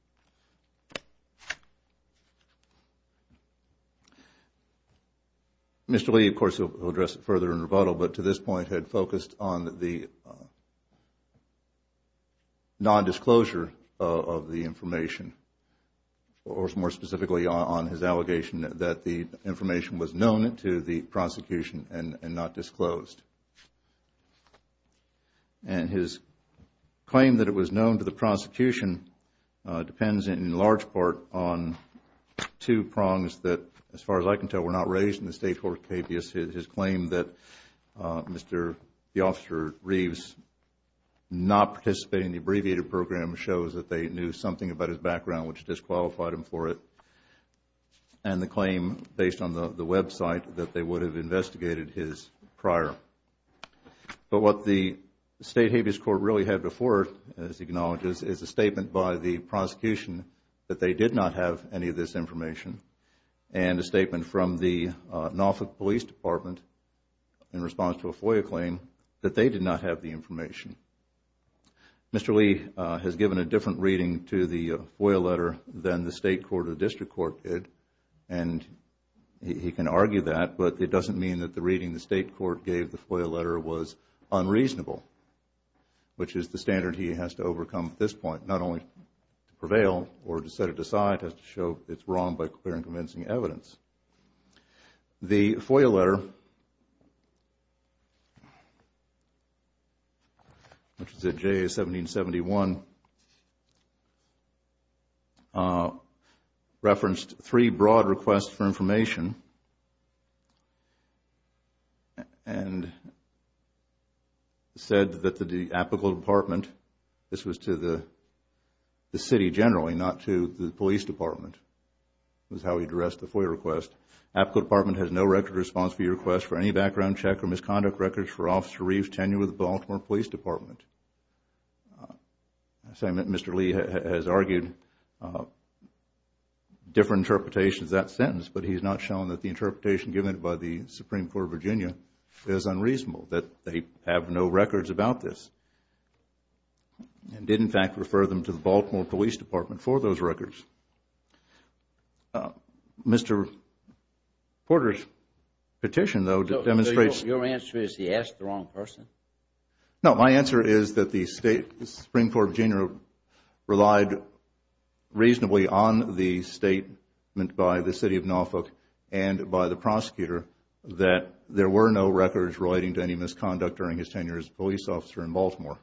Mr. Lee, of course, will address it further in rebuttal, but to this point had focused on the nondisclosure of the information, or more specifically on his allegation that the information was known to the prosecution and not disclosed. And his claim that it was known to the prosecution depends in large part on two prongs that, as far as I can tell, were not raised in the State Court case. His claim that Mr. Reeves not participating in the abbreviated program shows that they knew something about his background, which disqualified him for it, and the claim, based on the website, that they would have investigated his prior. But what the State Habeas Court really had before it, as it acknowledges, is a statement by the prosecution that they did not have any of this information and a statement from the Norfolk Police Department in response to a FOIA claim that they did not have the information. Mr. Lee has given a different reading to the FOIA letter than the State Court or District Court did, and he can argue that, but it doesn't mean that the reading the State Court gave the FOIA letter was unreasonable, which is the standard he has to overcome at this point, not only to prevail or to set it aside, but to show it's wrong by clear and convincing evidence. The FOIA letter, which is at J, 1771, referenced three broad requests for information and said that the Apical Department, this was to the City generally, not to the Police Department, was how he addressed the FOIA request. Apical Department has no record response for your request for any background check or misconduct records for Officer Reeves' tenure with the Baltimore Police Department. Mr. Lee has argued different interpretations of that sentence, but he has not shown that the interpretation given by the Supreme Court of Virginia is unreasonable, that they have no records about this, and did, in fact, refer them to the Baltimore Police Department for those records. Mr. Porter's petition, though, demonstrates... Your answer is he asked the wrong person? No, my answer is that the Supreme Court of Virginia relied reasonably on the statement by the City of Norfolk and by the prosecutor that there were no records relating to any misconduct during his tenure as a police officer in Baltimore,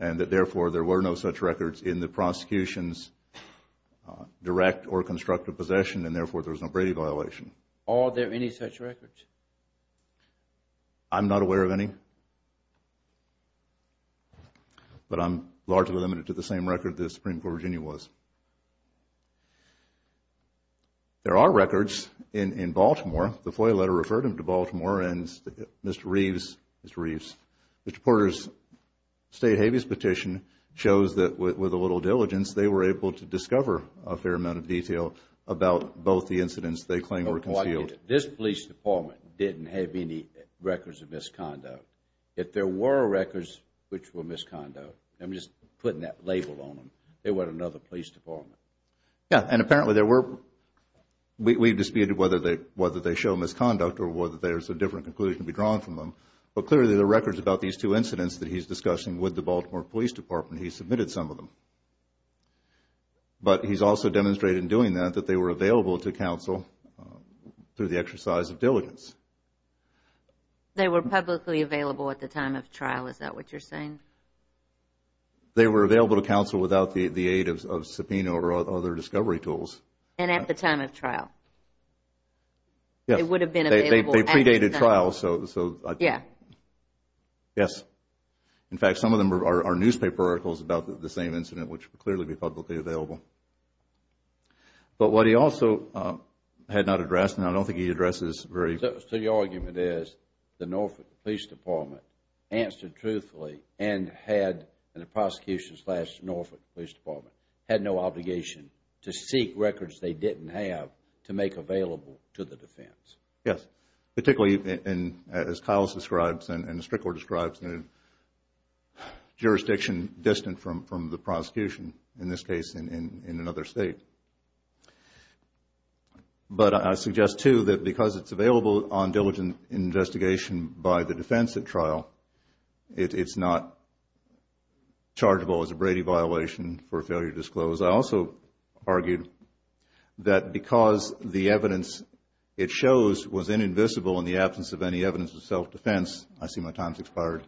and that, therefore, there were no such records in the prosecution's direct or constructive possession, and, therefore, there was no Brady violation. Are there any such records? I'm not aware of any, but I'm largely limited to the same record the Supreme Court of Virginia was. There are records in Baltimore. The FOIA letter referred him to Baltimore, and Mr. Reeves, Mr. Porter's state habeas petition shows that, with a little diligence, they were able to discover a fair amount of detail about both the incidents they claim were concealed. This police department didn't have any records of misconduct. If there were records which were misconduct, I'm just putting that label on them, they were in another police department. Yes, and apparently there were... We've disputed whether they show misconduct or whether there's a different conclusion to be drawn from them, but clearly the records about these two incidents that he's discussing with the Baltimore Police Department, he submitted some of them, but he's also demonstrated in doing that that they were available to counsel through the exercise of diligence. They were publicly available at the time of trial. Is that what you're saying? They were available to counsel without the aid of subpoena or other discovery tools. And at the time of trial? Yes, they predated trial, so... Yeah. Yes. In fact, some of them are newspaper articles about the same incident, which would clearly be publicly available. But what he also had not addressed, and I don't think he addresses very... So your argument is the Norfolk Police Department answered truthfully and had, and the prosecution slash Norfolk Police Department, had no obligation to seek records they didn't have to make available to the defense. Yes. Particularly, as Kyle describes and as Strickler describes, jurisdiction distant from the prosecution, in this case in another state. But I suggest, too, that because it's available on diligent investigation by the defense at trial, it's not chargeable as a Brady violation for failure to disclose. I also argued that because the evidence it shows was invisible in the absence of any evidence of self-defense, I see my time has expired.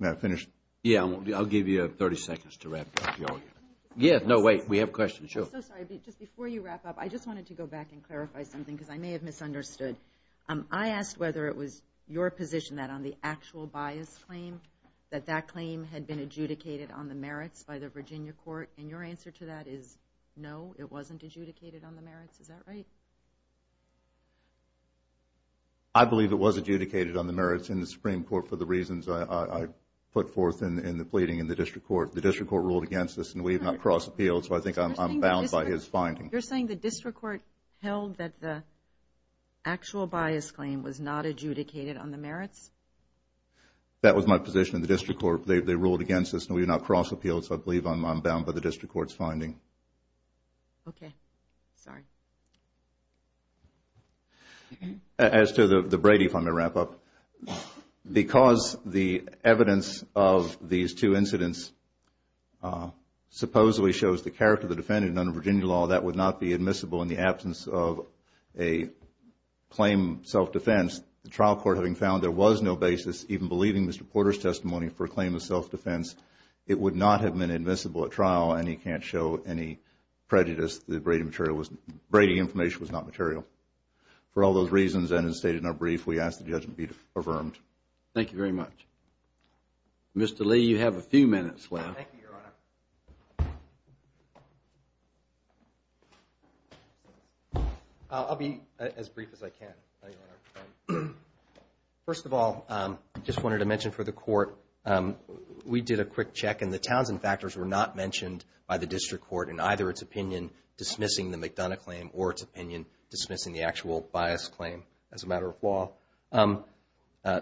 May I finish? Yeah. I'll give you 30 seconds to wrap up the argument. Yeah. No, wait. We have questions. Sure. I'm so sorry. Just before you wrap up, I just wanted to go back and clarify something because I may have misunderstood. I asked whether it was your position that on the actual bias claim, that that claim had been adjudicated on the merits by the Virginia court. And your answer to that is no, it wasn't adjudicated on the merits. Is that right? I believe it was adjudicated on the merits in the Supreme Court for the reasons I put forth in the pleading in the district court. The district court ruled against us, and we have not crossed appeals, so I think I'm bound by his finding. You're saying the district court held that the actual bias claim was not adjudicated on the merits? That was my position. They ruled against us, and we have not crossed appeals, so I believe I'm bound by the district court's finding. Okay. Sorry. As to the Brady, if I may wrap up. Because the evidence of these two incidents supposedly shows the character of the defendant under Virginia law, that would not be admissible in the absence of a claim self-defense. The trial court having found there was no basis, even believing Mr. Porter's testimony for a claim of self-defense, it would not have been admissible at trial, and he can't show any prejudice that the Brady information was not material. For all those reasons, and as stated in our brief, we ask the judgment be affirmed. Thank you very much. Mr. Lee, you have a few minutes left. Thank you, Your Honor. Your Honor. I'll be as brief as I can, Your Honor. First of all, I just wanted to mention for the court, we did a quick check, and the Townsend factors were not mentioned by the district court in either its opinion dismissing the McDonough claim or its opinion dismissing the actual bias claim as a matter of law.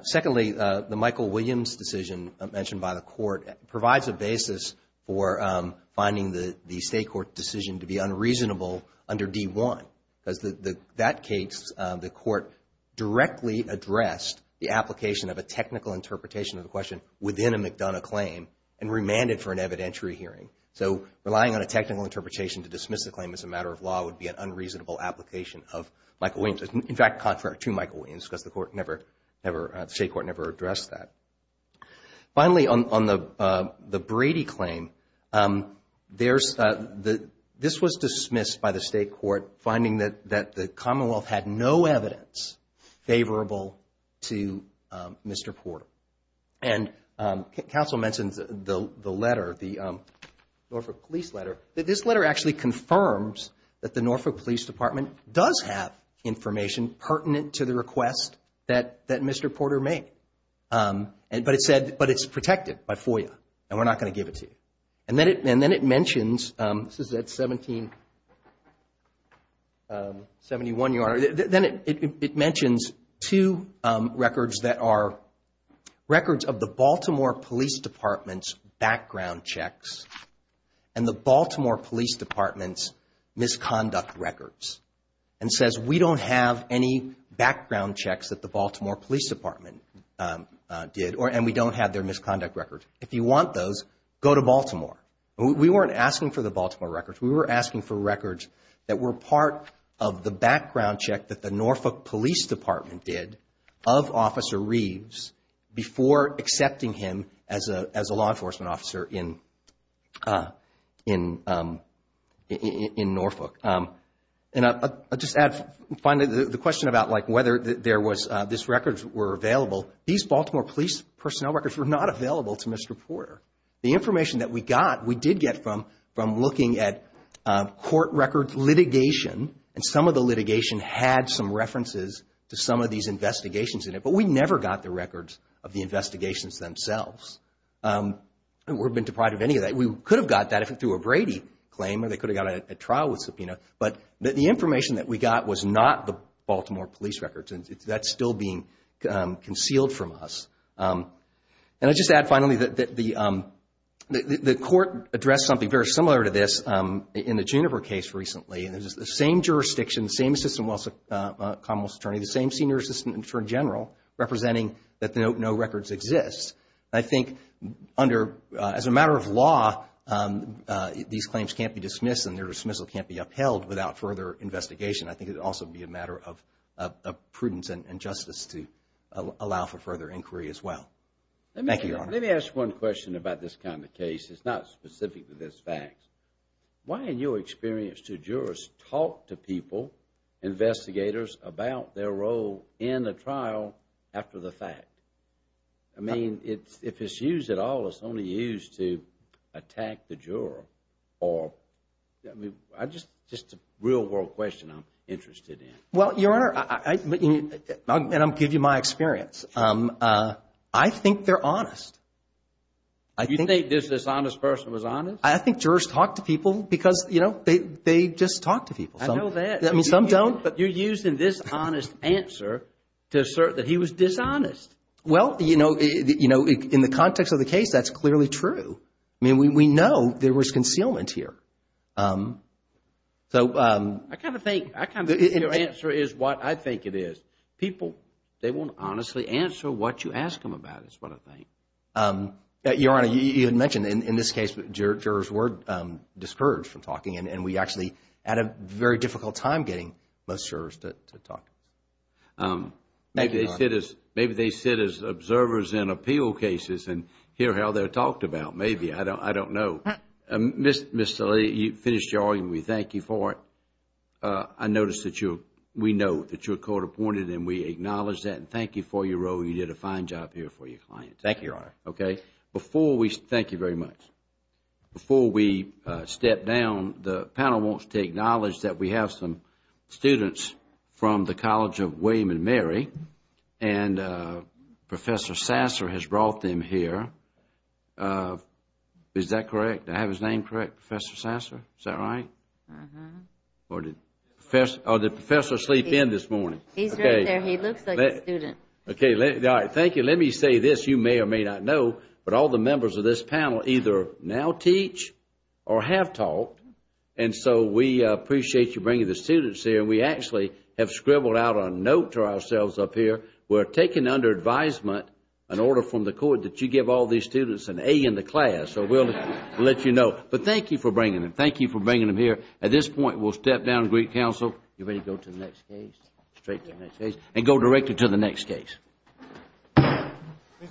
Secondly, the Michael Williams decision mentioned by the court provides a basis for finding the state court decision to be unreasonable under D1, because in that case the court directly addressed the application of a technical interpretation of the question within a McDonough claim and remanded for an evidentiary hearing. So relying on a technical interpretation to dismiss the claim as a matter of law would be an unreasonable application of Michael Williams. In fact, contrary to Michael Williams, because the state court never addressed that. Finally, on the Brady claim, this was dismissed by the state court, finding that the Commonwealth had no evidence favorable to Mr. Porter. And counsel mentioned the letter, the Norfolk Police letter, that this letter actually confirms that the Norfolk Police Department does have information pertinent to the request that Mr. Porter made, but it's protected by FOIA, and we're not going to give it to you. And then it mentions, this is at 1771, Your Honor, then it mentions two records that are records of the Baltimore Police Department's background checks and the Baltimore Police Department's misconduct records, and says we don't have any background checks that the Baltimore Police Department did, and we don't have their misconduct records. If you want those, go to Baltimore. We weren't asking for the Baltimore records. We were asking for records that were part of the background check that the Norfolk Police Department did of Officer Reeves before accepting him as a law enforcement officer in Norfolk. And I'll just add, finally, the question about whether this records were available, these Baltimore Police personnel records were not available to Mr. Porter. The information that we got, we did get from looking at court records litigation, and some of the litigation had some references to some of these investigations in it, but we never got the records of the investigations themselves. We've been deprived of any of that. We could have got that through a Brady claim, or they could have got a trial with subpoena, but the information that we got was not the Baltimore police records, and that's still being concealed from us. And I'll just add, finally, that the court addressed something very similar to this in the Juniper case recently, and it was the same jurisdiction, the same Assistant Commonwealth Attorney, the same Senior Assistant Attorney General representing that no records exist. I think as a matter of law, these claims can't be dismissed, and their dismissal can't be upheld without further investigation. I think it would also be a matter of prudence and justice to allow for further inquiry as well. Thank you, Your Honor. Let me ask one question about this kind of case. It's not specific to this fact. Why, in your experience, do jurors talk to people, investigators, about their role in the trial after the fact? I mean, if it's used at all, it's only used to attack the juror. I mean, just a real-world question I'm interested in. Well, Your Honor, and I'll give you my experience. I think they're honest. You think this dishonest person was honest? I think jurors talk to people because, you know, they just talk to people. I know that. I mean, some don't. But you're using this honest answer to assert that he was dishonest. Well, you know, in the context of the case, that's clearly true. I mean, we know there was concealment here. I kind of think your answer is what I think it is. People, they won't honestly answer what you ask them about is what I think. Your Honor, you had mentioned in this case jurors were discouraged from talking, and we actually had a very difficult time getting most jurors to talk. Maybe they sit as observers in appeal cases and hear how they're talked about. Maybe. I don't know. Ms. Salih, you finished your argument. We thank you for it. I notice that you're, we know that you're court-appointed, and we acknowledge that and thank you for your role. You did a fine job here for your client. Thank you, Your Honor. Okay. Before we, thank you very much. Before we step down, the panel wants to acknowledge that we have some students from the College of William & Mary, and Professor Sasser has brought them here. Is that correct? Do I have his name correct, Professor Sasser? Is that right? Or did Professor sleep in this morning? He's right there. He looks like a student. Okay. All right. Thank you. Let me say this. You may or may not know, but all the members of this panel either now teach or have taught, and so we appreciate you bringing the students here. We actually have scribbled out a note to ourselves up here. We're taking under advisement an order from the court that you give all these students an A in the class, so we'll let you know. But thank you for bringing them. At this point, we'll step down to greet counsel. You ready to go to the next case? Straight to the next case. And go directly to the next case. Please rise.